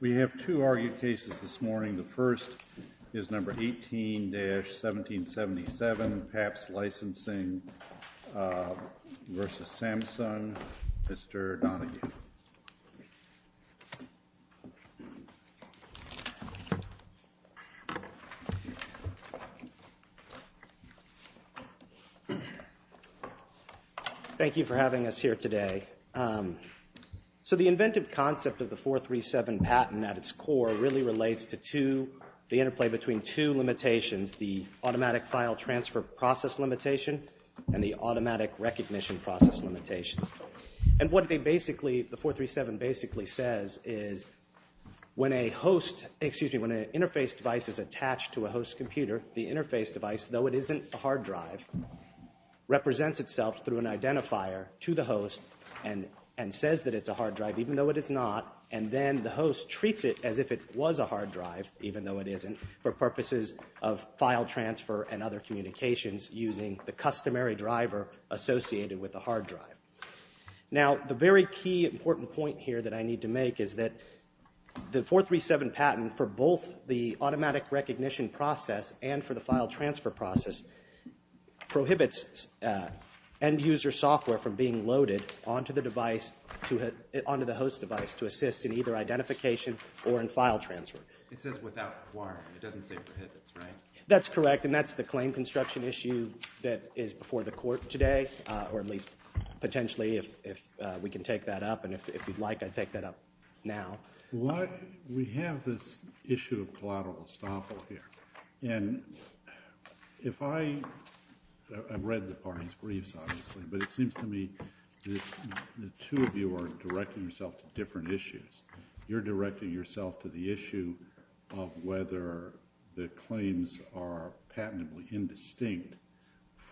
We have two argued cases this morning. The first is number 18-1777, Pabst Licensing v. Samsung. Mr. Donoghue. Thank you for having us here today. The inventive concept of the 437 patent at its core really relates to the interplay between two limitations, the automatic file transfer process limitation and the automatic recognition process limitation. And what they basically, the 437 basically says is when a host, excuse me, when an interface device is attached to a host computer, the interface device, though it isn't a hard drive, represents itself through an identifier to the host and says that it's a hard drive, even though it is not, and then the host treats it as if it was a hard drive, even though it isn't, for purposes of file transfer and other communications using the customary driver associated with the hard drive. Now, the very key important point here that I need to make is that the 437 patent for both the automatic recognition process and for the file transfer process prohibits end user software from being loaded onto the device, onto the host device to assist in either identification or in file transfer. It says without wiring. It doesn't say prohibits, right? That's correct and that's the claim construction issue that is before the court today, or at least potentially if we can take that up, and if you'd like, I'd take that up now. We have this issue of collateral estoppel here, and if I, I've read the parties' briefs obviously, but it seems to me the two of you are directing yourself to different issues. You're directing yourself to the issue of whether the claims are patently indistinct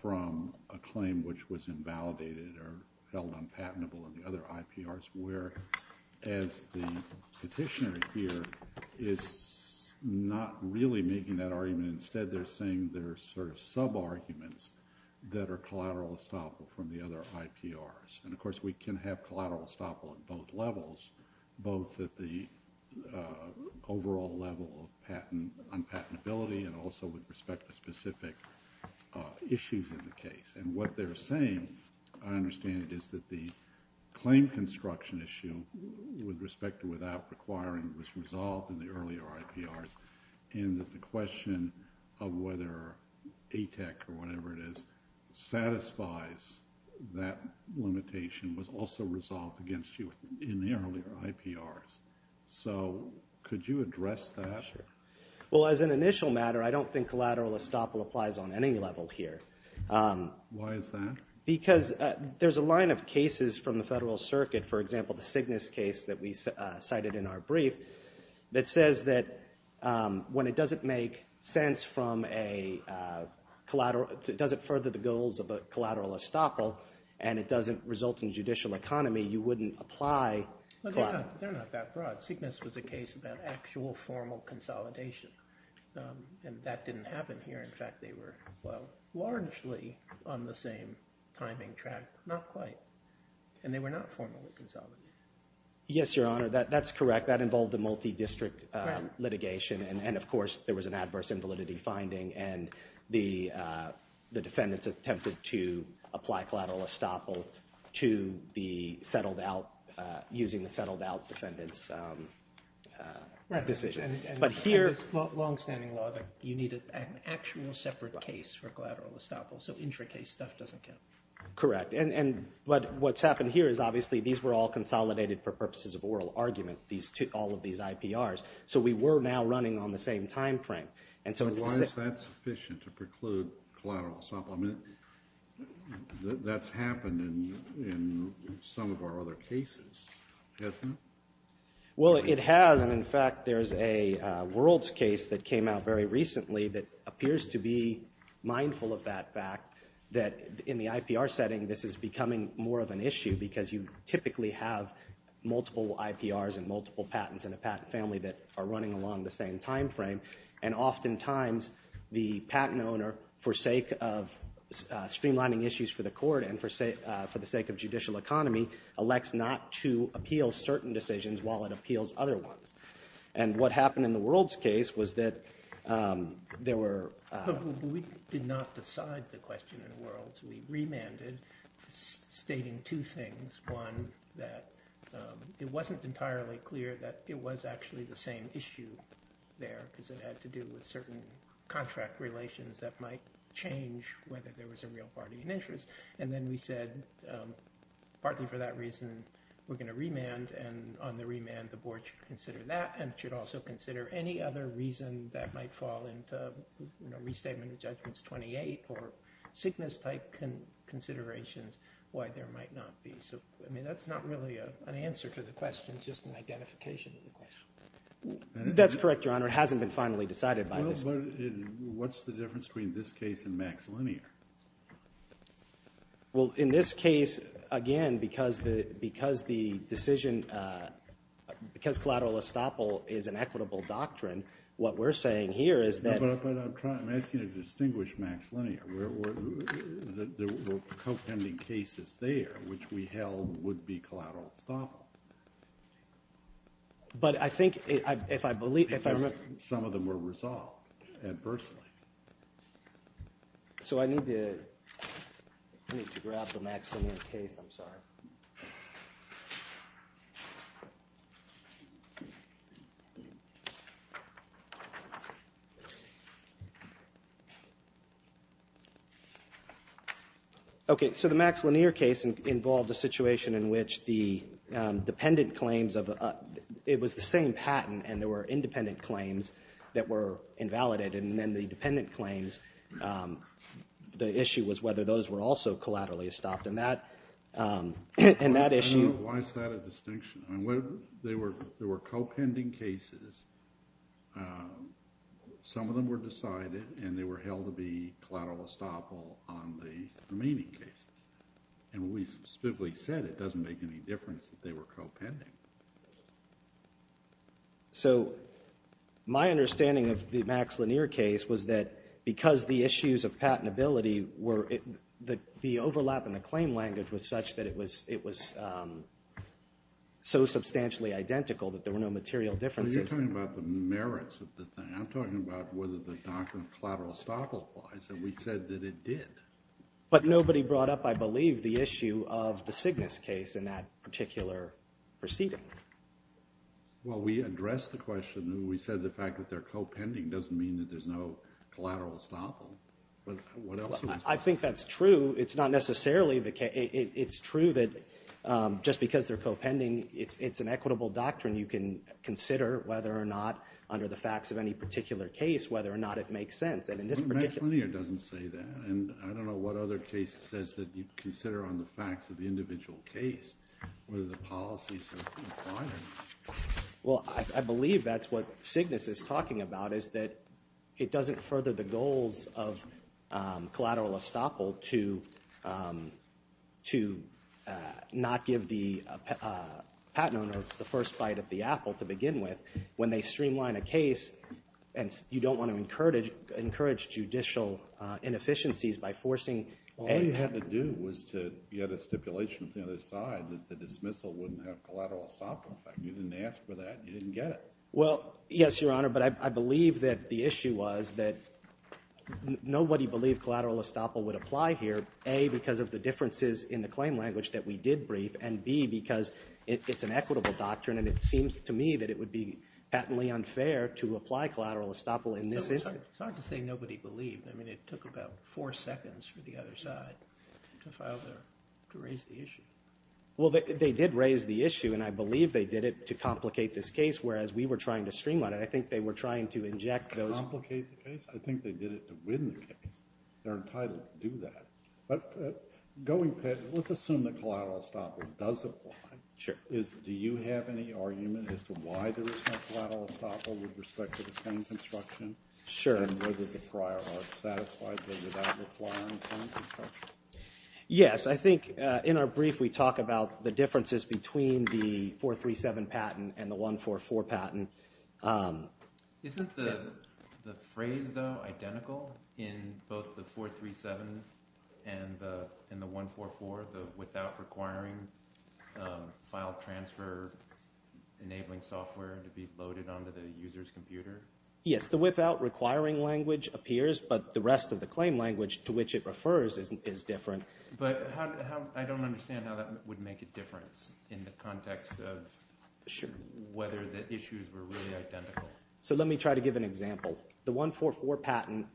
from a claim which was invalidated or held unpatentable in the other IPRs, whereas the petitioner here is not really making that argument. Instead, they're saying they're sort of sub-arguments that are collateral estoppel from the other IPRs, and of course we can have collateral estoppel at both levels, both at the overall level of patent, unpatentability and also with respect to specific issues in the case. And what they're saying, I understand it, is that the claim construction issue with respect to without requiring was resolved in the earlier IPRs, and that the question of whether ATEC or whatever it is satisfies that limitation was also resolved against you in the earlier IPRs. So, could you address that? Sure. Well, as an initial matter, I don't think collateral estoppel applies on any level here. Why is that? Because there's a line of cases from the Federal Circuit, for example, the Cygnus case that we cited in our brief, that says that when it doesn't make sense from a collateral, it doesn't further the goals of a collateral estoppel, and it doesn't result in judicial economy, you wouldn't apply collateral. They're not that broad. Cygnus was a case about actual formal consolidation, and that didn't happen here. In fact, they were largely on the same timing track, not quite, and they were not formally consolidated. Yes, Your Honor, that's correct. That involved a multi-district litigation, and of course there was an adverse invalidity finding, and the defendants attempted to apply collateral estoppel to the settled-out, using the settled-out defendants' decision. Right, and it's long-standing law that you need an actual separate case for collateral estoppel, so intracase stuff doesn't count. Correct, but what's happened here is obviously these were all consolidated for purposes of Why is that sufficient, to preclude collateral estoppel? I mean, that's happened in some of our other cases, hasn't it? Well, it has, and in fact there's a World's case that came out very recently that appears to be mindful of that fact, that in the IPR setting this is becoming more of an issue because you typically have multiple IPRs and multiple patents in a patent family that are along the same time frame, and oftentimes the patent owner, for sake of streamlining issues for the court and for the sake of judicial economy, elects not to appeal certain decisions while it appeals other ones. And what happened in the World's case was that there were We did not decide the question in the World's. We remanded, stating two things. One, that it wasn't entirely clear that it was actually the same issue there, because it had to do with certain contract relations that might change whether there was a real party in interest. And then we said, partly for that reason, we're going to remand, and on the remand the board should consider that, and should also consider any other reason that might fall into restatement of judgments 28, or Cygnus-type considerations, why there might not be. So that's not really an answer to the question, it's just an identification of the question. That's correct, Your Honor. It hasn't been finally decided by this Court. What's the difference between this case and Max Linear? Well, in this case, again, because the decision, because collateral estoppel is an equitable doctrine, what we're saying here is that But I'm asking you to distinguish Max Linear. There were co-pending cases there, which we held would be collateral estoppel. But I think, if I believe, if I remember Some of them were resolved adversely. So I need to, I need to grab the Max Linear case, I'm sorry. Okay, so the Max Linear case involved a situation in which the dependent claims of, it was the same patent, and there were independent claims that were invalidated, and then the dependent Why is that a distinction? There were co-pending cases, some of them were decided, and they were held to be collateral estoppel on the remaining cases. And we specifically said it doesn't make any difference that they were co-pending. So my understanding of the Max Linear case was that because the issues of patentability were, the overlap in the claim language was such that it was, it was so substantially identical that there were no material differences. But you're talking about the merits of the thing. I'm talking about whether the doctrine of collateral estoppel applies, and we said that it did. But nobody brought up, I believe, the issue of the Cygnus case in that particular proceeding. Well, we addressed the question, we said the fact that they're co-pending doesn't mean that there's no collateral estoppel. But what else? I think that's true. It's not necessarily the case. It's true that just because they're co-pending, it's an equitable doctrine. You can consider whether or not, under the facts of any particular case, whether or not it makes sense. Max Linear doesn't say that, and I don't know what other case it says that you consider on the facts of the individual case, whether the policy is fine or not. Well, I believe that's what Cygnus is talking about, is that it doesn't further the goals of collateral estoppel to not give the patent owner the first bite of the apple, to begin with, when they streamline a case. And you don't want to encourage judicial inefficiencies by forcing any... Well, all you had to do was to get a stipulation from the other side that the dismissal wouldn't have collateral estoppel effect. You didn't ask for that, and you didn't get it. Well, yes, Your Honor, but I believe that the issue was that nobody believed collateral estoppel would apply here, A, because of the differences in the claim language that we did brief, and B, because it's an equitable doctrine, and it seems to me that it would be patently unfair to apply collateral estoppel in this instance. It's hard to say nobody believed. I mean, it took about four seconds for the other side to file their – to raise the issue. Well, they did raise the issue, and I believe they did it to complicate this case, whereas we were trying to streamline it. I think they were trying to inject those... Complicate the case? I think they did it to win the case. They're entitled to do that. But going back, let's assume that collateral estoppel does apply. Sure. Do you have any argument as to why there is no collateral estoppel with respect to the claim construction? Sure. And whether the prior art satisfied them without requiring claim construction? Yes. I think, in our brief, we talk about the differences between the 437 patent and the 144 patent. Isn't the phrase, though, identical in both the 437 and the 144, the without requiring file transfer enabling software to be loaded onto the user's computer? Yes. The without requiring language appears, but the rest of the claim language to which it refers is different. But I don't understand how that would make a difference in the context of whether the issues were really identical. So let me try to give an example. The 144 patent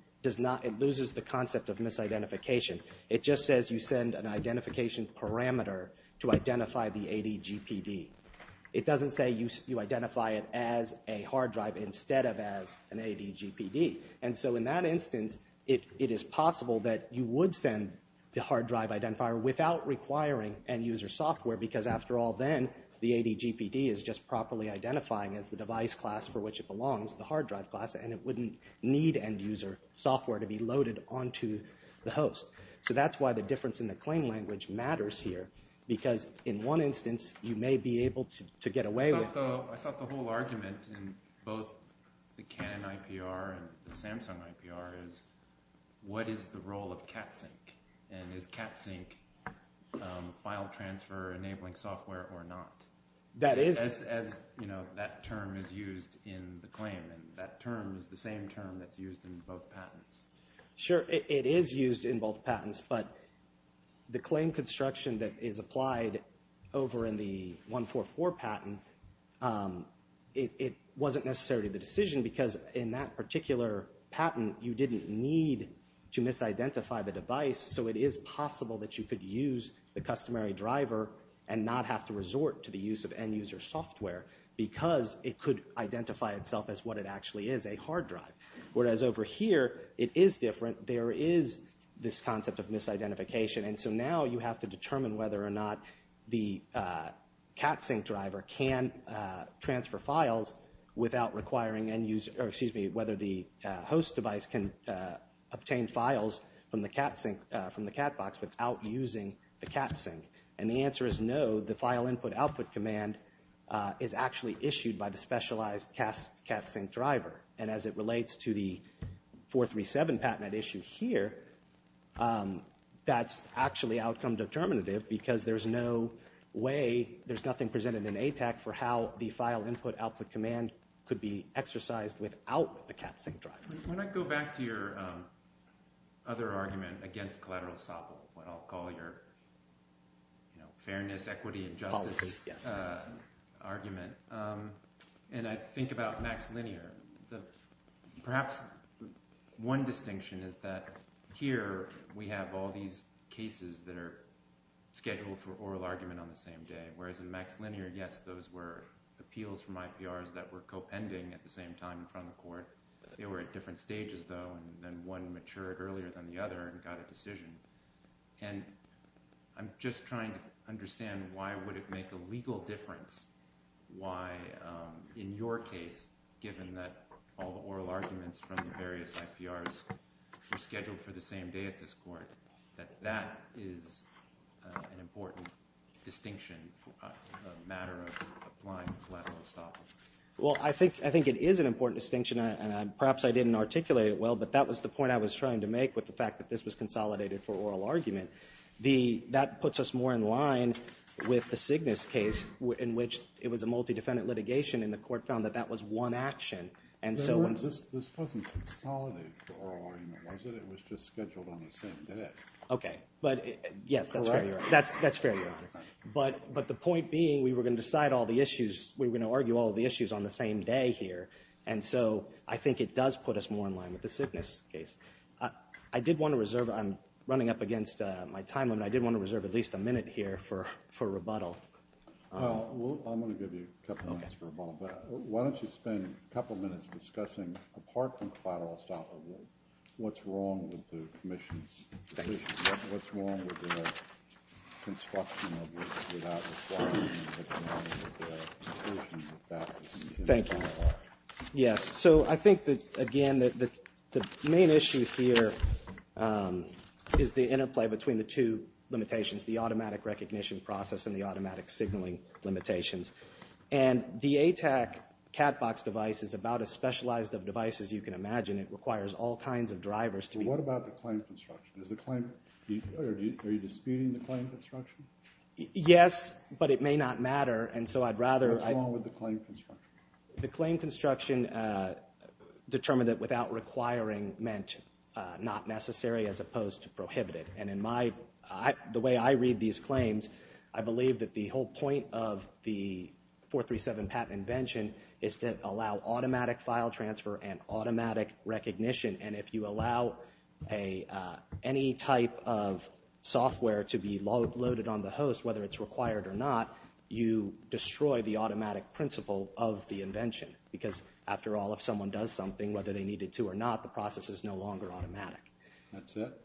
loses the concept of misidentification. It just says you send an identification parameter to identify the ADGPD. It doesn't say you identify it as a hard drive instead of as an ADGPD. And so in that instance, it is possible that you would send the hard drive identifier without requiring end user software because after all, then, the ADGPD is just properly identifying as the device class for which it belongs, the hard drive class, and it wouldn't need end user software to be loaded onto the host. So that's why the difference in the claim language matters here, because in one instance, you may be able to get away with it. I thought the whole argument in both the Canon IPR and the Samsung IPR is what is the role of cat sync, and is cat sync file transfer enabling software or not? That is. As that term is used in the claim, and that term is the same term that's used in both patents. Sure. It is used in both patents, but the claim construction that is applied over in the 144 patent, it wasn't necessarily the decision because in that particular patent, you didn't need to misidentify the device. So it is possible that you could use the customary driver and not have to resort to the use of end user software because it could identify itself as what it actually is, a hard drive. Whereas over here, it is different. There is this concept of misidentification. And so now you have to determine whether or not the cat sync driver can transfer files without requiring end user, or excuse me, whether the host device can obtain files from the cat sync, from the cat box without using the cat sync. And the answer is no. The file input output command is actually issued by the specialized cat sync driver. And as it relates to the 437 patent at issue here, that's actually outcome determinative because there's no way, there's nothing presented in ATAC for how the file input output command could be exercised without the cat sync driver. When I go back to your other argument against collateral estoppel, what I'll call your fairness, equity, and justice argument. And I think about Max Linear. Perhaps one distinction is that here we have all these cases that are scheduled for oral argument on the same day, whereas in Max Linear, yes, those were appeals from IPRs that were co-pending at the same time in front of the court. They were at different stages though, and then one matured earlier than the other and got a decision. And I'm just trying to understand why would it make a legal difference why in your case, given that all the oral arguments from the various IPRs were scheduled for the same day at this court, that that is an important distinction, a matter of applying collateral estoppel. Well, I think it is an important distinction, and perhaps I didn't articulate it well, but that was the point I was trying to make with the fact that this was consolidated for oral argument. That puts us more in line with the Cygnus case in which it was a multi-defendant litigation and the court found that that was one action. And so this wasn't consolidated for oral argument, was it? It was just scheduled on the same day. Okay. But yes, that's fair. But the point being, we were going to decide all the issues, we were going to argue all the issues on the same day here. And so I think it does put us more in line with the Cygnus case. I did want to reserve, I'm running up against my time limit, I did want to reserve at least a minute here for rebuttal. Well, I'm going to give you a couple of minutes for rebuttal, but why don't you spend a couple of minutes discussing, apart from collateral estoppel, what's wrong with the commission's decision? Thank you. What's wrong with the construction of the without requiring the termination of the conclusion of that decision? Thank you. Yes. So I think that, again, the main issue here is the interplay between the two limitations, the automatic recognition process and the automatic signaling limitations. And the ATAC cat box device is about as specialized of a device as you can imagine. It requires all kinds of drivers to be What about the claim construction? Is the claim, are you disputing the claim construction? Yes, but it may not matter. And so I'd rather What's wrong with the claim construction? The claim construction determined that without requiring meant not necessary as opposed to prohibited. And in my, the way I read these claims, I believe that the whole point of the 437 patent invention is to allow automatic file transfer and automatic recognition. And if you allow any type of software to be loaded on the host, whether it's required or not, you destroy the automatic principle of the invention. Because, after all, if someone does something, whether they need it to or not, the process is no longer automatic. That's it?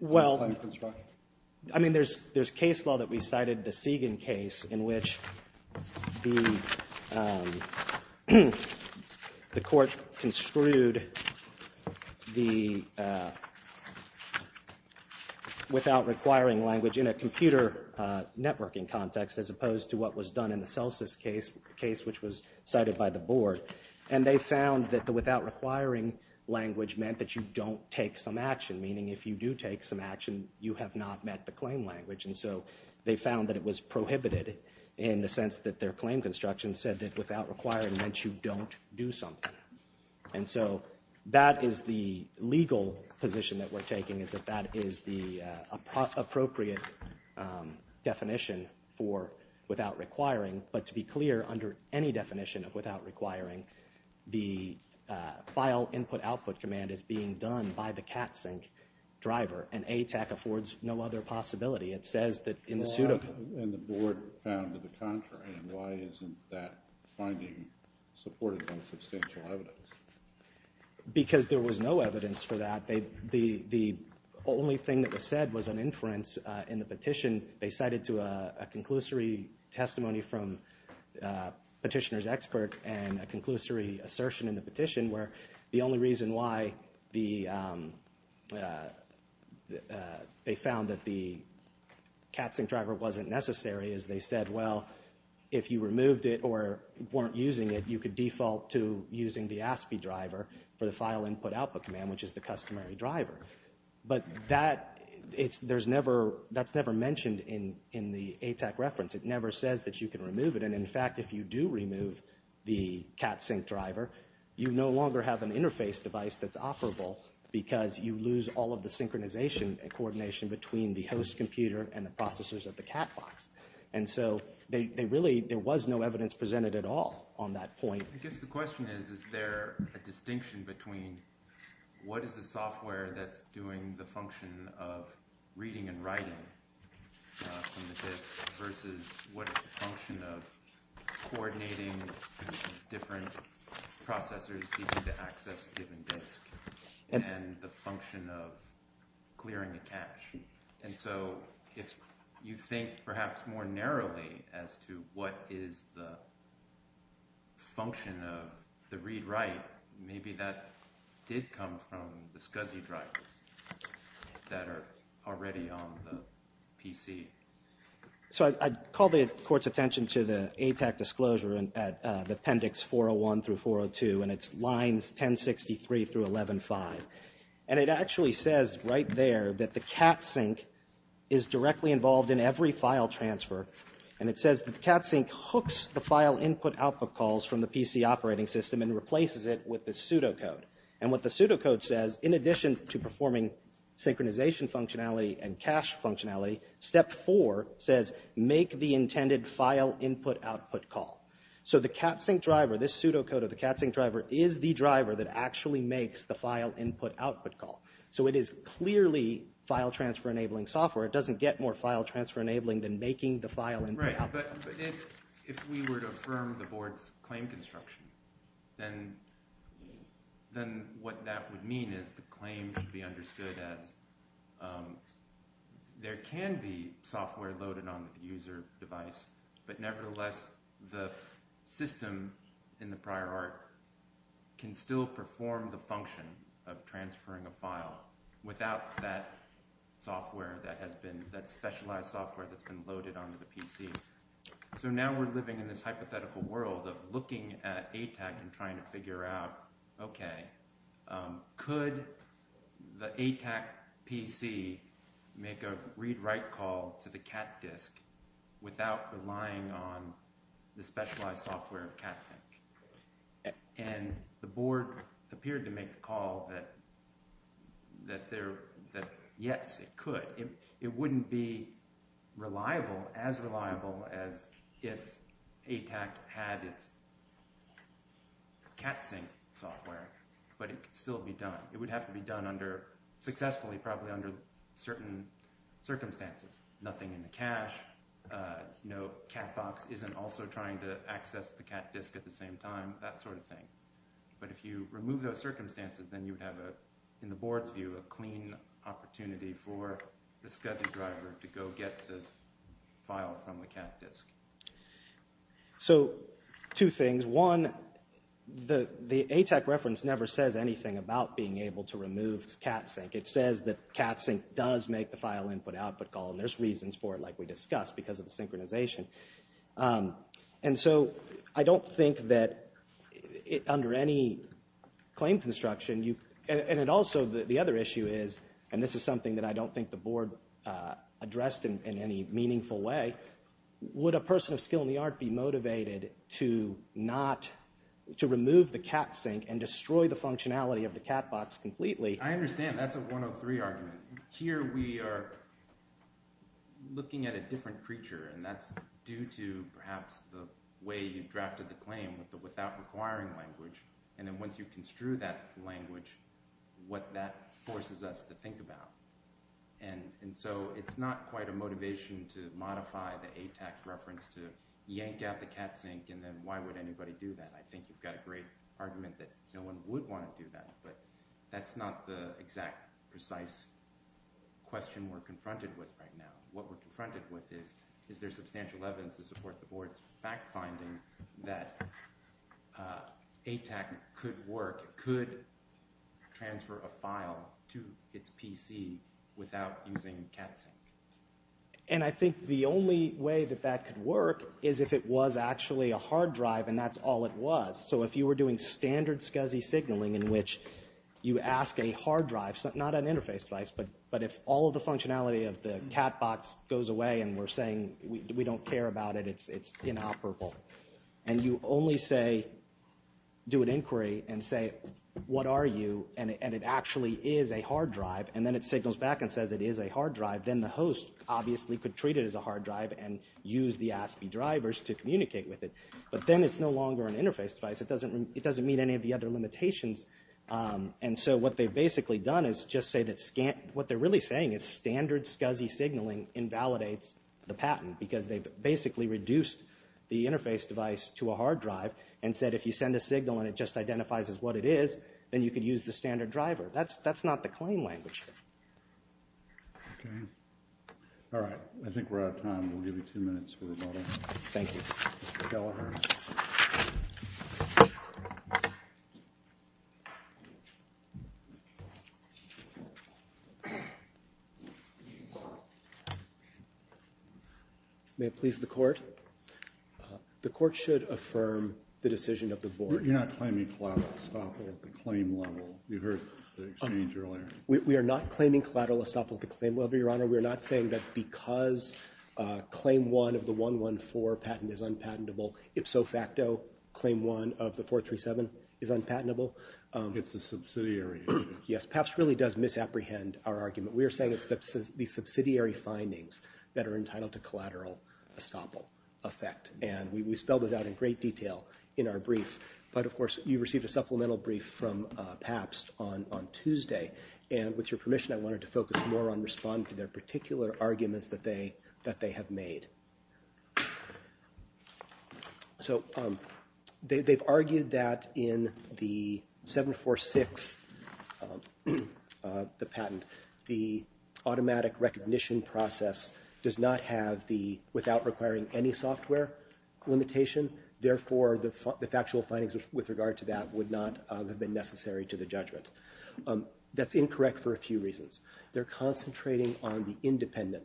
Well, I mean, there's, there's case law that we cited, the Segan case, in which the court construed the without requiring language in a computer networking context, as opposed to what was done in the Celsus case, which was cited by the board. And they found that the without requiring language meant that you don't take some action, meaning if you do take some action, you have not met the claim language. And so they found that it was prohibited in the sense that their claim construction said that without requiring meant you don't do something. And so that is the legal position that we're taking, is that that is the appropriate definition for without requiring. But to be clear, under any definition of without requiring, the file input output command is being done by the CATSYNC driver, and ATAC affords no other possibility. It says that in the pseudocode And the board found to the contrary. And why isn't that finding supported on substantial evidence? Because there was no evidence for that. The only thing that was said was an inference in the petition. They cited to a conclusory testimony from petitioner's expert and a conclusory assertion in the petition, where the only reason why the, they found that the CATSYNC driver wasn't necessary is they said, well, if you removed it or weren't using it, you could default to using the ASPI driver for the file input output command, which is the customary driver. But that, there's never, that's never mentioned in the ATAC reference. It never says that you can remove it. And in fact, if you do remove the CATSYNC driver, you no longer have an interface device that's offerable because you lose all of the synchronization and coordination between the host computer and the processors of the cat box. And so they really, there was no evidence presented at all on that point. I guess the question is, is there a distinction between what is the software that's doing the function of reading and writing from the disk versus what is the function of coordinating different processors to access a given disk and the function of clearing a cache? And so, if you think perhaps more narrowly as to what is the function of the read write, maybe that did come from the SCSI drivers that are already on the PC. So I'd call the court's attention to the ATAC disclosure and the appendix 401 through 402 and it's lines 1063 through 11.5. And it actually says right there that the CATSYNC is directly involved in every file transfer. And it says that the CATSYNC hooks the file input output calls from the PC operating system and replaces it with the pseudocode. And what the pseudocode says, in addition to performing synchronization functionality and cache functionality, step four says make the intended file input output call. So the CATSYNC driver, this pseudocode of the CATSYNC driver is the driver that actually makes the file input output call. So it is clearly file transfer enabling software. It doesn't get more file transfer enabling than making the file input output. Right, but if we were to affirm the board's claim construction, then what that would mean is the claim should be understood as there can be software loaded on the user device, but nevertheless the system in the prior art can still perform the function of transferring a file without that software that has been, that specialized software that's been loaded onto the PC. So now we're living in this hypothetical world of looking at ATAC and trying to figure out, okay, could the ATAC PC make a read write call to the CAT disk without relying on the specialized software of CATSYNC? And the board appeared to make the call that, that there, that yes, it could. It wouldn't be reliable, as reliable as if ATAC had its CATSYNC software, but it could still be done. It would have to be done under, successfully probably under certain circumstances. Nothing in the cache, no CAT box isn't also trying to access the CAT disk at the same time, that sort of thing. But if you remove those circumstances, then you would have a, in the board's view, a clean opportunity for the SCSI driver to go get the file from the CAT disk. So two things. One, the ATAC reference never says anything about being able to remove CATSYNC. It says that CATSYNC does make the file input output call, and there's reasons for it, like we discussed, because of the synchronization. And so I don't think that it, under any claim construction, you, and it also, the other issue is, and this is something that I don't think the board addressed in any meaningful way, would a person of skill in the art be motivated to not, to remove the CATSYNC and destroy the functionality of the CAT box completely? I understand. That's a 103 argument. Here, we are looking at a different creature, and that's due to, perhaps, the way you drafted the claim with the without requiring language, and then once you construe that language, what that forces us to think about. And so it's not quite a motivation to modify the ATAC reference to yank out the CATSYNC, and then why would anybody do that? I think you've got a great argument that no one would want to do that, but that's not the exact, precise question we're confronted with right now. What we're confronted with is, is there substantial evidence to support the board's fact-finding that ATAC could work, could transfer a file to its PC without using CATSYNC? And I think the only way that that could work is if it was actually a hard drive, and that's all it was. So if you were doing standard SCSI signaling in which you ask a hard drive, not an interface device, but if all of the functionality of the CAT box goes away and we're saying we don't care about it, it's inoperable, and you only say, do an inquiry and say, what are you, and it actually is a hard drive, and then it signals back and says it is a hard drive, then the host, obviously, could treat it as a hard drive and use the ASPI drivers to communicate with it, but then it's no longer an interface device. It doesn't meet any of the other limitations, and so what they've basically done is just say that what they're really saying is standard SCSI signaling invalidates the patent because they've basically reduced the interface device to a hard drive and said if you send a signal and it just identifies as what it is, then you could use the standard driver. That's not the claim language. Okay. All right. I think we're out of time. We'll give you two minutes for the vote. Thank you. All right. May it please the court? The court should affirm the decision of the board. You're not claiming collateral estoppel at the claim level. You heard the exchange earlier. We are not claiming collateral estoppel at the claim level, Your Honor. We are not saying that because claim one of the 114 patent is unpatentable, ipso facto, claim one of the 437 is unpatentable. It's a subsidiary. Yes, PAPS really does misapprehend our argument. We are saying it's the subsidiary findings that are entitled to collateral estoppel effect, and we spelled it out in great detail in our brief, but of course you received a supplemental brief from PAPS on Tuesday, and with your permission, I wanted to focus more on responding to their particular arguments that they have made. So they've argued that in the 746, the patent, the automatic recognition process does not have the, without requiring any software limitation, therefore the factual findings with regard to that would not have been necessary to the judgment. That's incorrect for a few reasons. They're concentrating on the independent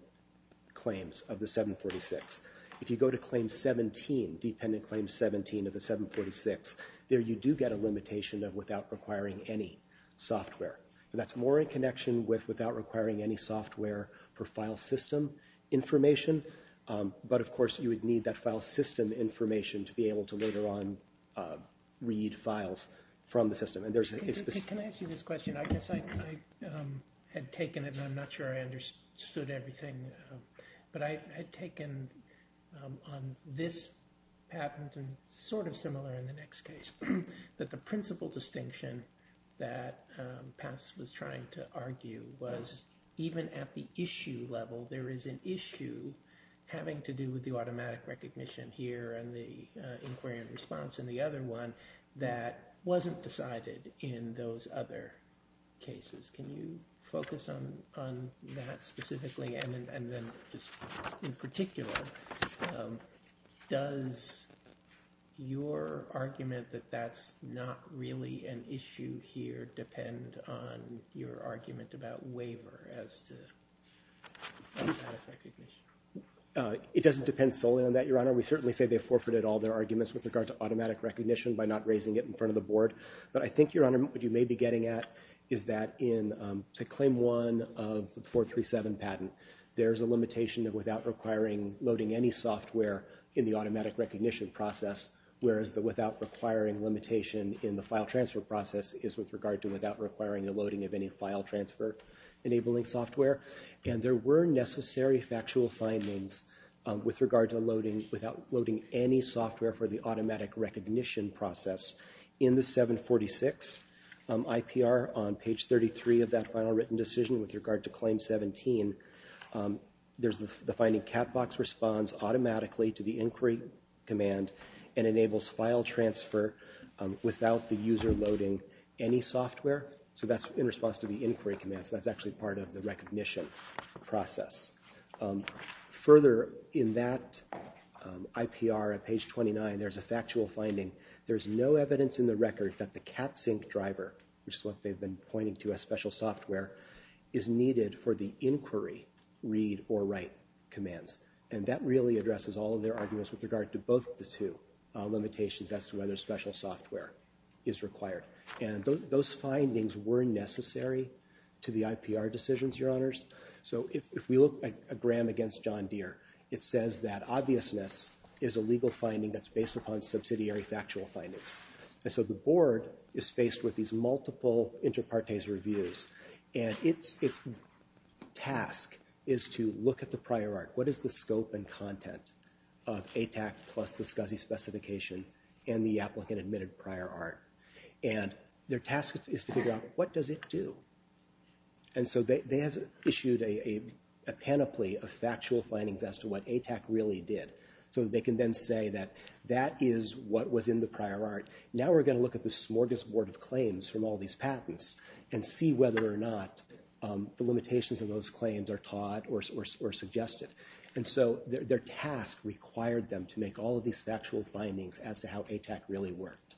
claims of the 746. If you go to claim 17, dependent claim 17 of the 746, there you do get a limitation of without requiring any software. That's more in connection with without requiring any software for file system information, but of course you would need that file system information to be able to later on read files from the system. Can I ask you this question? I guess I had taken it, and I'm not sure I understood everything, but I had taken on this patent, and sort of similar in the next case, that the principal distinction that PAPS was trying to argue was even at the issue level, there is an issue having to do with the automatic recognition here and the inquiry and response in the other one that wasn't decided in those other cases. Can you focus on that specifically, and then just in particular, does your argument that that's not really an issue here depend on your argument about waiver as to that recognition? It doesn't depend solely on that, Your Honor. We certainly say they forfeited all their arguments with regard to automatic recognition by not raising it in front of the board, but I think, Your Honor, what you may be getting at is that in claim one of the 437 patent, there's a limitation of without requiring loading any software in the automatic recognition process, whereas the without requiring limitation in the file transfer process is with regard to without requiring the loading of any file transfer enabling software, and there were necessary factual findings with regard to loading without loading any software for the automatic recognition process. In the 746 IPR on page 33 of that final written decision with regard to claim 17, there's the finding cat box responds automatically to the inquiry command and enables file transfer without the user loading any software, so that's in response to the inquiry command, so that's actually part of the recognition process. Further in that IPR at page 29, there's a factual finding. There's no evidence in the record that the cat sync driver, which is what they've been pointing to as special software, is needed for the inquiry read or write commands, and that really addresses all of their arguments with regard to both the two limitations as to whether special software is required, and those findings were necessary to the IPR decisions, Your Honors, so if we look at Graham against John Deere, it says that obviousness is a legal finding that's based upon subsidiary factual findings, and so the board is faced with these multiple inter partes reviews, and its task is to look at the prior art. What is the scope and content of ATAC plus the SCSI specification and the applicant admitted prior art, and their task is to figure out what does it do, and so they have issued a panoply of so they can then say that that is what was in the prior art. Now we're going to look at the smorgasbord of claims from all these patents and see whether or not the limitations of those claims are taught or suggested, and so their task required them to make all of these factual findings as to how ATAC really worked,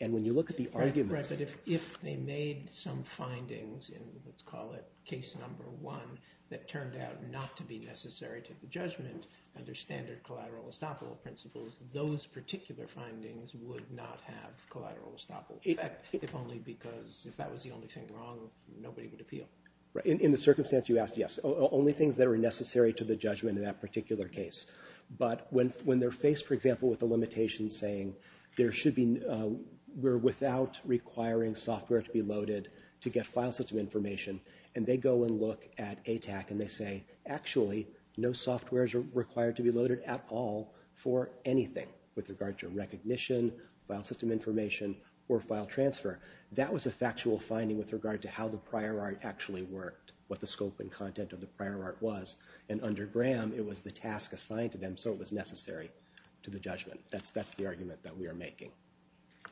and when you look at the argument, if they made some findings in, let's call it case number one, that turned out not to be necessary to the judgment, under standard collateral estoppel principles, those particular findings would not have collateral estoppel effect, if only because if that was the only thing wrong, nobody would appeal. Right, in the circumstance you asked, yes, only things that are necessary to the judgment in that particular case, but when they're faced, for example, with the limitations saying there should be, we're without requiring software to be loaded to get file system information, and they go and look at ATAC and they say, actually, no software is required to be loaded at all for anything with regard to recognition, file system information, or file transfer. That was a factual finding with regard to how the prior art actually worked, what the scope and content of the prior art was, and under Graham, it was the task assigned to them, so it was necessary to the judgment. That's the argument that we are making.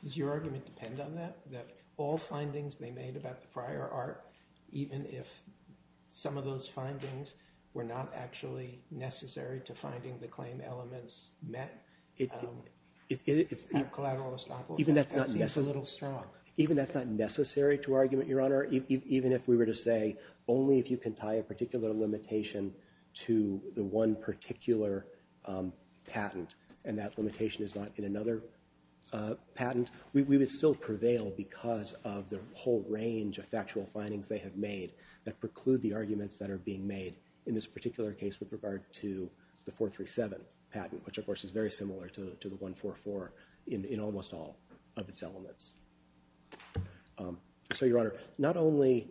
Does your argument depend on that, that all findings they made about the prior art, even if some of those findings were not actually necessary to finding the claim elements met collateral estoppel, that seems a little strong? Even that's not necessary to argument, Your Honor, even if we were to say, only if you can tie a particular limitation to the one particular patent, and that limitation is not in another patent, we would still prevail because of the whole range of factual findings they have made that preclude the arguments that are being made in this particular case with regard to the 437 patent, which of course is very similar to the 144 in almost all of its elements. So, Your Honor, not only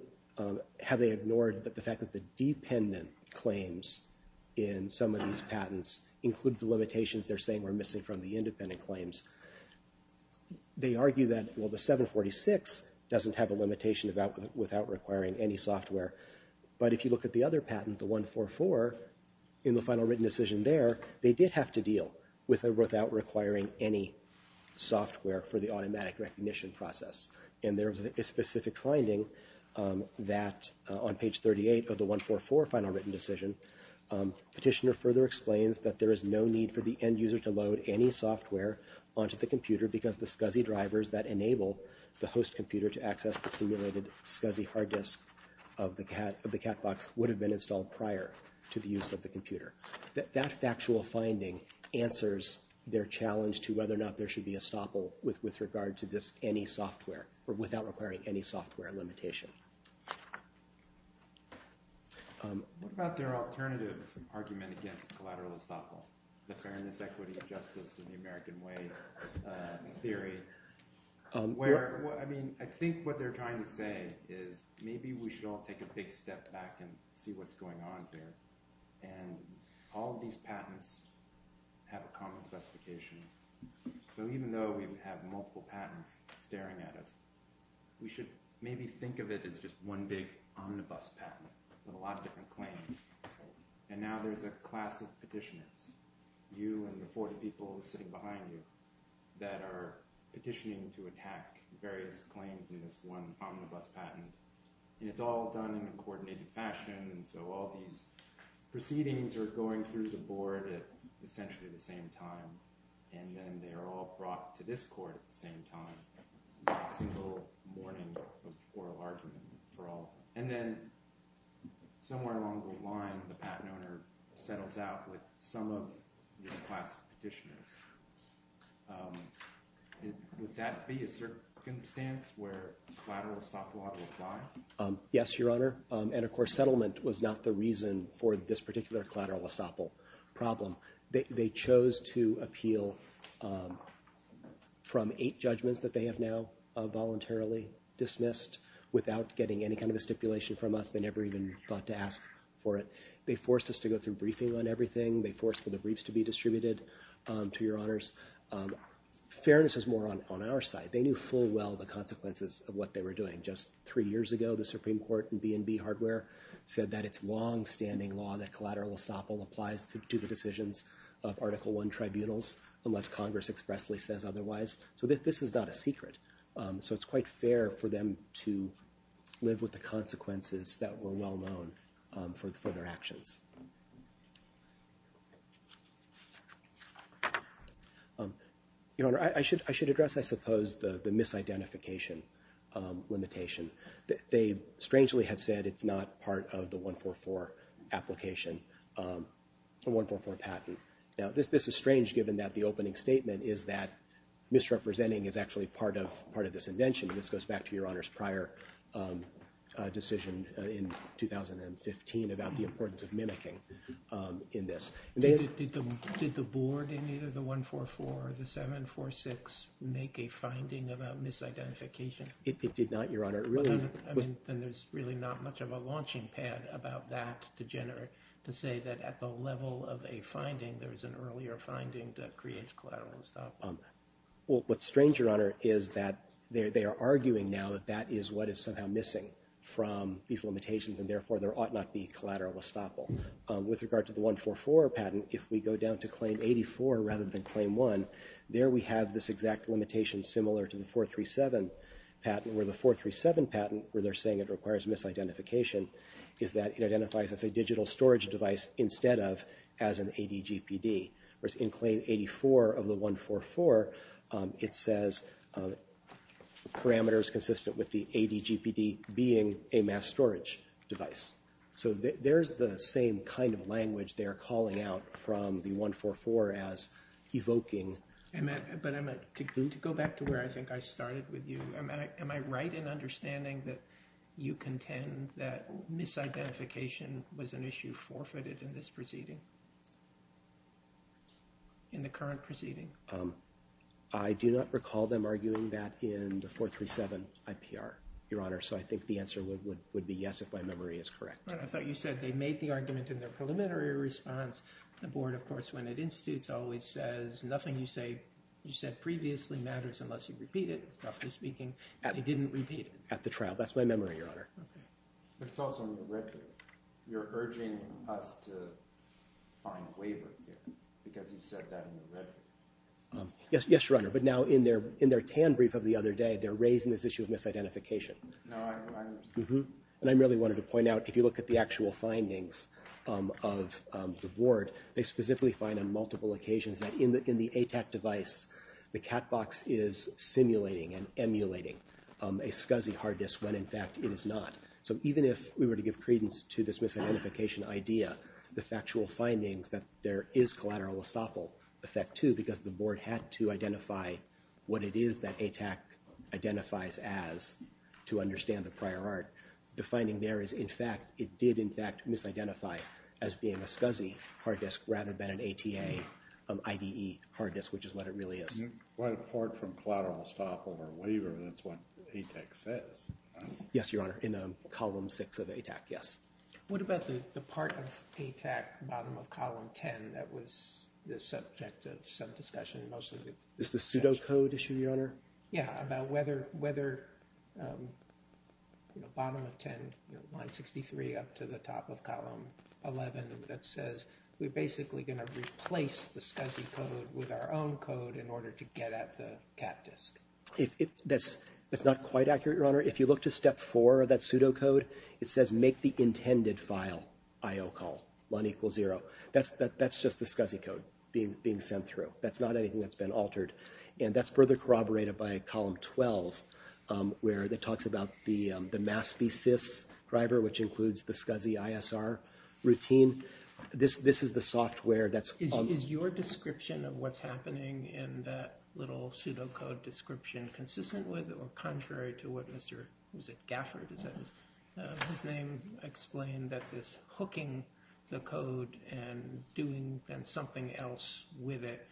have they ignored the fact that the dependent claims in some of these they argue that, well, the 746 doesn't have a limitation without requiring any software, but if you look at the other patent, the 144, in the final written decision there, they did have to deal with it without requiring any software for the automatic recognition process, and there was a specific finding that on page 38 of the 144 final written decision, Petitioner further explains that there is no need for the end user to load any software onto the computer because the SCSI drivers that enable the host computer to access the simulated SCSI hard disk of the cat box would have been installed prior to the use of the computer. That factual finding answers their challenge to whether or not there should be estoppel with regard to this any software, or without requiring any software limitation. What about their alternative argument against collateral estoppel, the fairness, equity, justice, and the American way theory, where, I mean, I think what they're trying to say is maybe we should all take a big step back and see what's going on here, and all these patents have a common specification, so even though we would have multiple patents staring at us, we should maybe think of it as just one big omnibus patent with a lot of different claims, and now there's a class of petitioners, you and the 40 people sitting behind you, that are petitioning to attack various claims in this one omnibus patent, and it's all done in a coordinated fashion, and so all these proceedings are going through the board at essentially the same time, and then they're all to this court at the same time, a single morning of oral argument for all, and then somewhere along the line, the patent owner settles out with some of this class of petitioners. Would that be a circumstance where collateral estoppel ought to apply? Yes, your honor, and of course settlement was not the reason for this particular collateral estoppel problem. They chose to appeal from eight judgments that they have now voluntarily dismissed without getting any kind of a stipulation from us. They never even thought to ask for it. They forced us to go through briefing on everything. They forced for the briefs to be distributed to your honors. Fairness is more on our side. They knew full well the consequences of what they were doing. Just three years ago, the Supreme Court and B&B Hardware said that it's long-standing law that collateral estoppel applies to the decisions of Article I tribunals unless Congress expressly says otherwise, so this is not a secret, so it's quite fair for them to live with the consequences that were well known for their actions. Your honor, I should address, I suppose, the misidentification limitation. They strangely have said it's not part of the 144 application. 144 patent. Now, this is strange given that the opening statement is that misrepresenting is actually part of this invention. This goes back to your honors' prior decision in 2015 about the importance of mimicking in this. Did the board in either the 144 or the 746 make a finding about misidentification? It did not, your honor. I mean, then there's really not much of a launching pad about that to say that at the level of a finding, there was an earlier finding that creates collateral estoppel. Well, what's strange, your honor, is that they are arguing now that that is what is somehow missing from these limitations, and therefore there ought not be collateral estoppel. With regard to the 144 patent, if we go down to Claim 84 rather than Claim 1, there we have this exact limitation similar to the 437 patent, where the 437 patent, where they're saying it requires misidentification, is that it identifies as a digital storage device instead of as an ADGPD. Whereas in Claim 84 of the 144, it says parameters consistent with the ADGPD being a mass storage device. So there's the same kind of language they're calling out from the 144 as evoking. But to go back to where I think I started with you, am I right in understanding that you contend that misidentification was an issue forfeited in this proceeding, in the current proceeding? I do not recall them arguing that in the 437 IPR, your honor, so I think the answer would be yes if my memory is correct. I thought you said they made the argument in their preliminary response. The board, of course, when it institutes, always says nothing you said previously matters unless you repeat it, roughly speaking. They didn't repeat it. At the trial. That's my memory, your honor. Okay. But it's also in the record. You're urging us to find waiver here because you said that in the record. Yes, your honor, but now in their TAN brief of the other day, they're raising this issue of misidentification. No, I understand. And I really wanted to point out, if you look at the multiple occasions that in the ATAC device, the cat box is simulating and emulating a SCSI hard disk when in fact it is not. So even if we were to give credence to this misidentification idea, the factual findings that there is collateral estoppel effect too because the board had to identify what it is that ATAC identifies as to understand the prior art. The finding there is, it did, in fact, misidentify as being a SCSI hard disk rather than an ATA IDE hard disk, which is what it really is. But apart from collateral estoppel or waiver, that's what ATAC says. Yes, your honor, in column six of ATAC, yes. What about the part of ATAC bottom of column 10 that was the subject of some discussion mostly? This is the pseudo code issue, your honor. Yeah, about whether, you know, bottom of 10, you know, line 63 up to the top of column 11 that says we're basically going to replace the SCSI code with our own code in order to get at the cat disk. That's not quite accurate, your honor. If you look to step four of that pseudo code, it says make the intended file IO call one equals zero. That's just the SCSI code being sent through. That's not anything that's been altered, and that's further corroborated by column 12, where it talks about the the mass v-sys driver, which includes the SCSI ISR routine. This is the software that's... Is your description of what's happening in that little pseudo code description consistent with or contrary to what Mr. Gafford says? His name with it.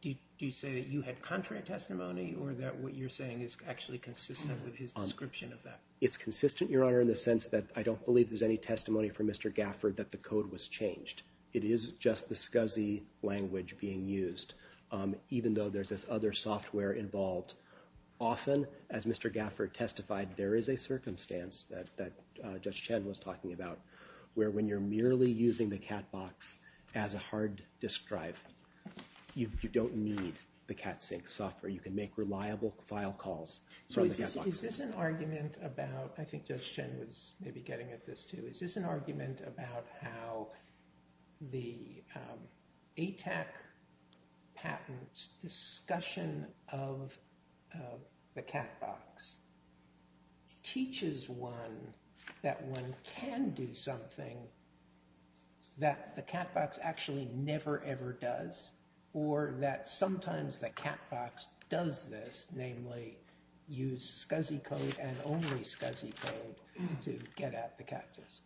Do you say that you had contrary testimony or that what you're saying is actually consistent with his description of that? It's consistent, your honor, in the sense that I don't believe there's any testimony from Mr. Gafford that the code was changed. It is just the SCSI language being used, even though there's this other software involved. Often, as Mr. Gafford testified, there is a circumstance that Judge Chen was talking about, where when you're merely using the cat box as a hard disk drive, you don't need the cat sync software. You can make reliable file calls. So is this an argument about, I think Judge Chen was maybe getting at this too, is this an argument about how the ATAC patent discussion of the cat box teaches one that one can do something that the cat box actually never ever does, or that sometimes the cat box does this, namely use SCSI code and only SCSI code to get at the cat disk?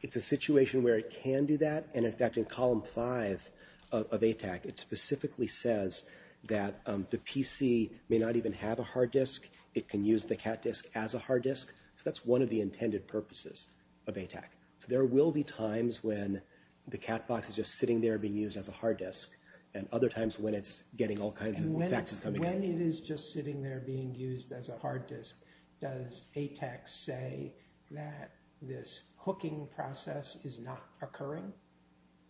It's a situation where it can do that. And in fact, in column five of ATAC, it specifically says that the PC may not even have a hard disk. It can use the cat disk as a hard disk. So that's one of the intended purposes of ATAC. So there will be times when the cat box is just sitting there being used as a hard disk, and other times when it's getting all kinds of faxes coming out. When it is just sitting there being used as a hard disk, does ATAC say that this hooking process is not occurring?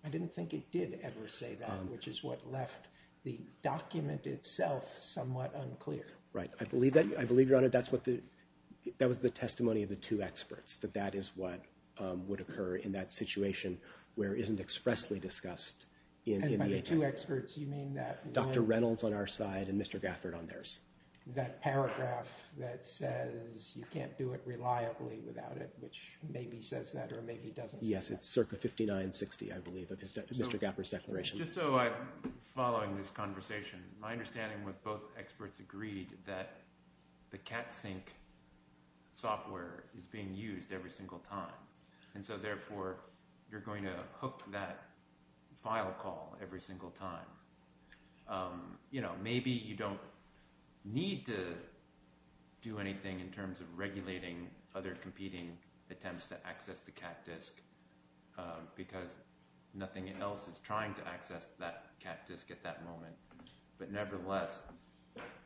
I didn't think it did ever say that, which is what left the document itself somewhat unclear. Right. I believe that. I believe, Your Honor, that was the testimony of the two experts, that that is what would occur in that situation where it isn't expressly discussed in the ATAC. And by the two experts, you mean that one... Dr. Reynolds on our side and Mr. Gafford on theirs. That paragraph that says you can't do it reliably without it, which maybe says that or maybe doesn't say that. Yes, it's circa 5960, I believe, of Mr. Gafford's declaration. Just so I'm following this conversation, my understanding was both experts agreed that the cat sync software is being used every single time, and so therefore you're going to hook that file call every single time. You know, maybe you don't need to do anything in terms of regulating other competing attempts to access the cat disk, because nothing else is trying to access that cat disk at that moment. But nevertheless,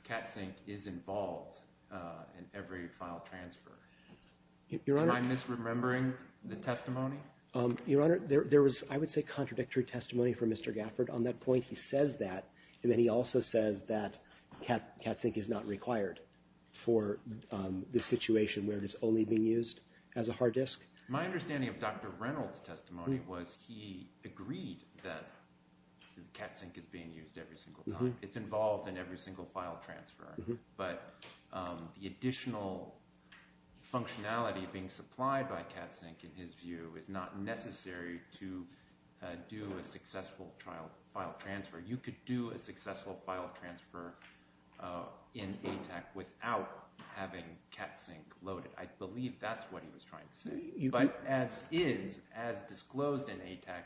cat sync is involved in every file transfer. Am I misremembering the testimony? Your Honor, there was, I would say, contradictory testimony from Mr. Gafford on that point. He says that, and then he also says that cat sync is not required for the situation where it is only being used as a hard disk. My understanding of Dr. Reynolds' testimony was he agreed that cat sync is being used every single time. It's involved in every single file transfer, but the additional functionality being supplied by cat sync, in his view, is not necessary to do a successful file transfer. You could do a successful file transfer in ATAC without having cat sync loaded. I believe that's what he was trying to say, but as is, as disclosed in ATAC,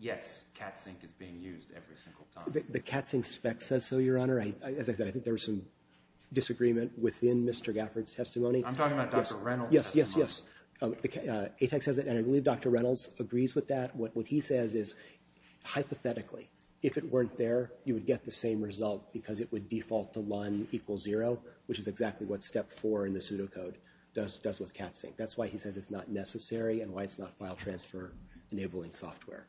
yes, cat sync is being used every single time. The cat sync spec says so, Your Honor. As I said, I think there was some disagreement within Mr. Gafford's testimony. I'm talking about Dr. Reynolds' testimony. Yes, yes, yes. ATAC says it, and I believe Dr. Reynolds agrees with that. What he says is, hypothetically, if it weren't there, you would get the same result because it would default to LUN equals zero, which is exactly what step four in the pseudocode does with cat sync. That's why he says it's not necessary and why it's not file transfer enabling software.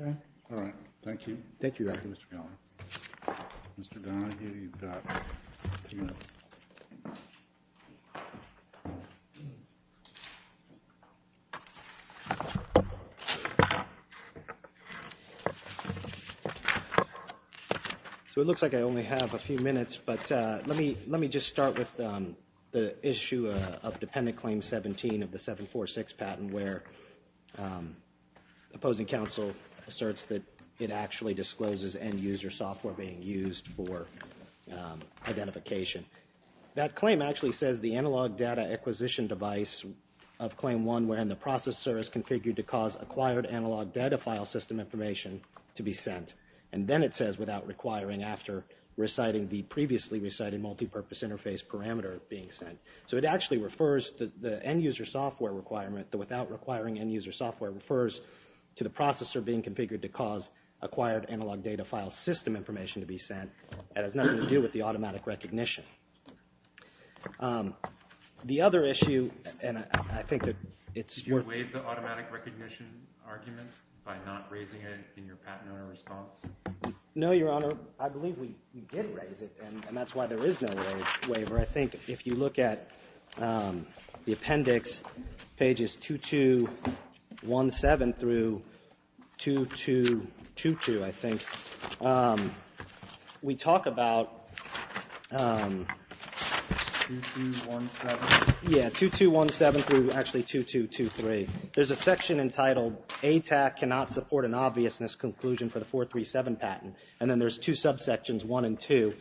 Okay, all right. Thank you. Thank you, Mr. Gallagher. Mr. Gallagher, you've got two minutes. So it looks like I only have a few minutes, but let me just start with the issue of Dependent Claim 17 of the 746 patent where opposing counsel asserts that it actually discloses end-user software being used for identification. That claim actually says the analog data acquisition device of Claim 1 wherein the processor is configured to cause acquired analog data file system information to be sent, and then it says without requiring after reciting the previously recited multipurpose interface parameter being sent. So it actually refers to the end-user software requirement, the without requiring end-user software refers to the data file system information to be sent, and it has nothing to do with the automatic recognition. The other issue, and I think that it's worth it. Did you waive the automatic recognition argument by not raising it in your patent owner response? No, Your Honor. I believe we did raise it, and that's why there is no waiver. I think if you look at the appendix, pages 2217 through 2222, I think, we talk about 2217 through actually 2223. There's a section entitled ATAC cannot support an obviousness conclusion for the 437 patent, and then there's two subsections, one and two.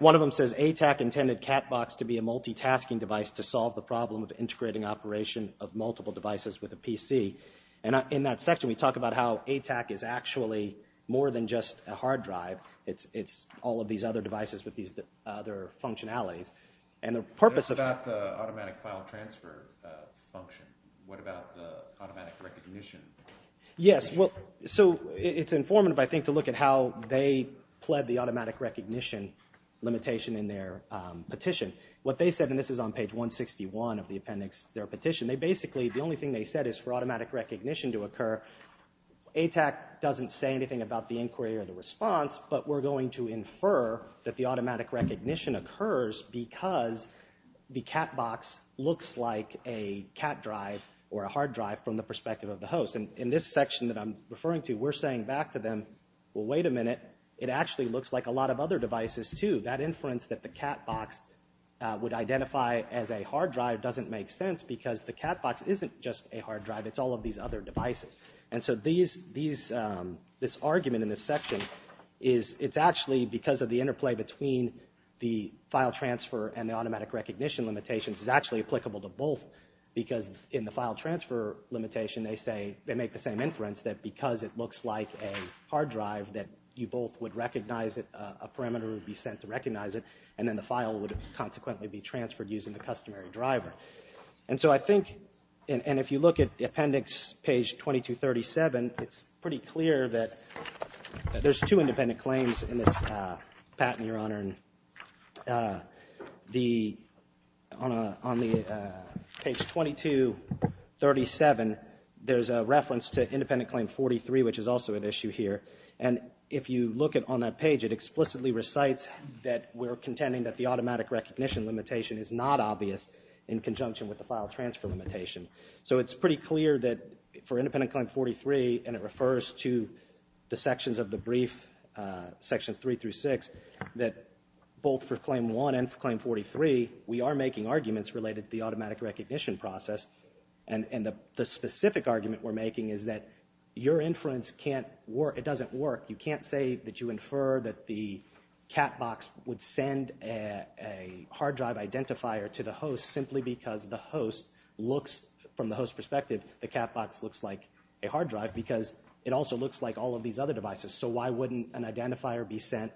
One of them says ATAC intended CatBox to be a multitasking device to solve the problem of integrating operation of multiple devices with a PC, and in that section we talk about how ATAC is actually more than just a hard drive. It's all of these other devices with these other functionalities, and the purpose of... What about the automatic file transfer function? What about the automatic recognition? Yes, well, so it's informative, I think, to look at how they pled the automatic recognition limitation in their petition. What they said, and this is on page 161 of the appendix, their petition, they basically, the only thing they said is for automatic recognition to occur. ATAC doesn't say anything about the inquiry or the response, but we're going to infer that the automatic recognition occurs because the CatBox looks like a cat drive or a hard drive from the perspective of the host, and in this section that I'm referring to, we're saying back to them, well, wait a minute, it actually looks like a lot of other devices, too. That inference that the CatBox would identify as a hard drive doesn't make sense because the CatBox isn't just a hard drive, it's all of these other devices, and so this argument in this section is it's actually because of the interplay between the file transfer and the automatic recognition limitations is actually applicable to both because in the file transfer limitation they say, they make the same hard drive that you both would recognize it, a parameter would be sent to recognize it, and then the file would consequently be transferred using the customary driver. And so I think, and if you look at the appendix, page 2237, it's pretty clear that there's two independent claims in this patent, Your Honor, and on the page 2237, there's a reference to independent claim 43, which is also an issue here, and if you look at on that page, it explicitly recites that we're contending that the automatic recognition limitation is not obvious in conjunction with the file transfer limitation. So it's pretty clear that for independent claim 43, and it refers to the sections of the brief, sections three through six, that both for claim one and for claim 43, we are making arguments related to the automatic recognition process, and the specific argument we're making is that your inference can't work, it doesn't work, you can't say that you infer that the cat box would send a hard drive identifier to the host simply because the host looks, from the host perspective, the cat box looks like a hard drive because it also looks like all of these other devices, so why wouldn't an identifier be sent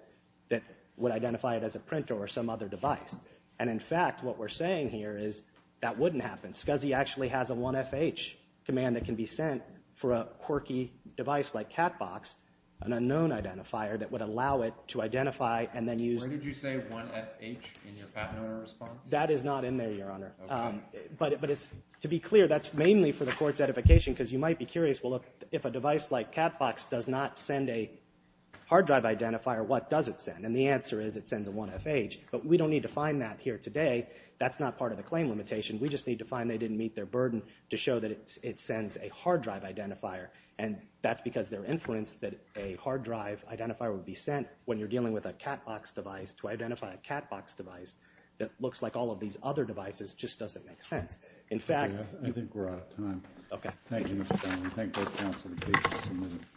that would identify it as a printer or some other device? And in fact, what we're saying here is that wouldn't happen. SCSI actually has a 1FH command that can be sent for a quirky device like cat box, an unknown identifier that would allow it to identify and then use... Where did you say 1FH in your patent owner response? That is not in there, Your Honor, but it's, to be clear, that's mainly for the court's edification because you might be curious, well look, if a device like cat box does not send a hard drive identifier, what does it send? And the we don't need to find that here today, that's not part of the claim limitation, we just need to find they didn't meet their burden to show that it sends a hard drive identifier, and that's because their inference that a hard drive identifier would be sent when you're dealing with a cat box device to identify a cat box device that looks like all of these other devices just doesn't make sense. In fact... I think we're out of time. Okay. Thank you, Mr. Connelly. Thank both counsels.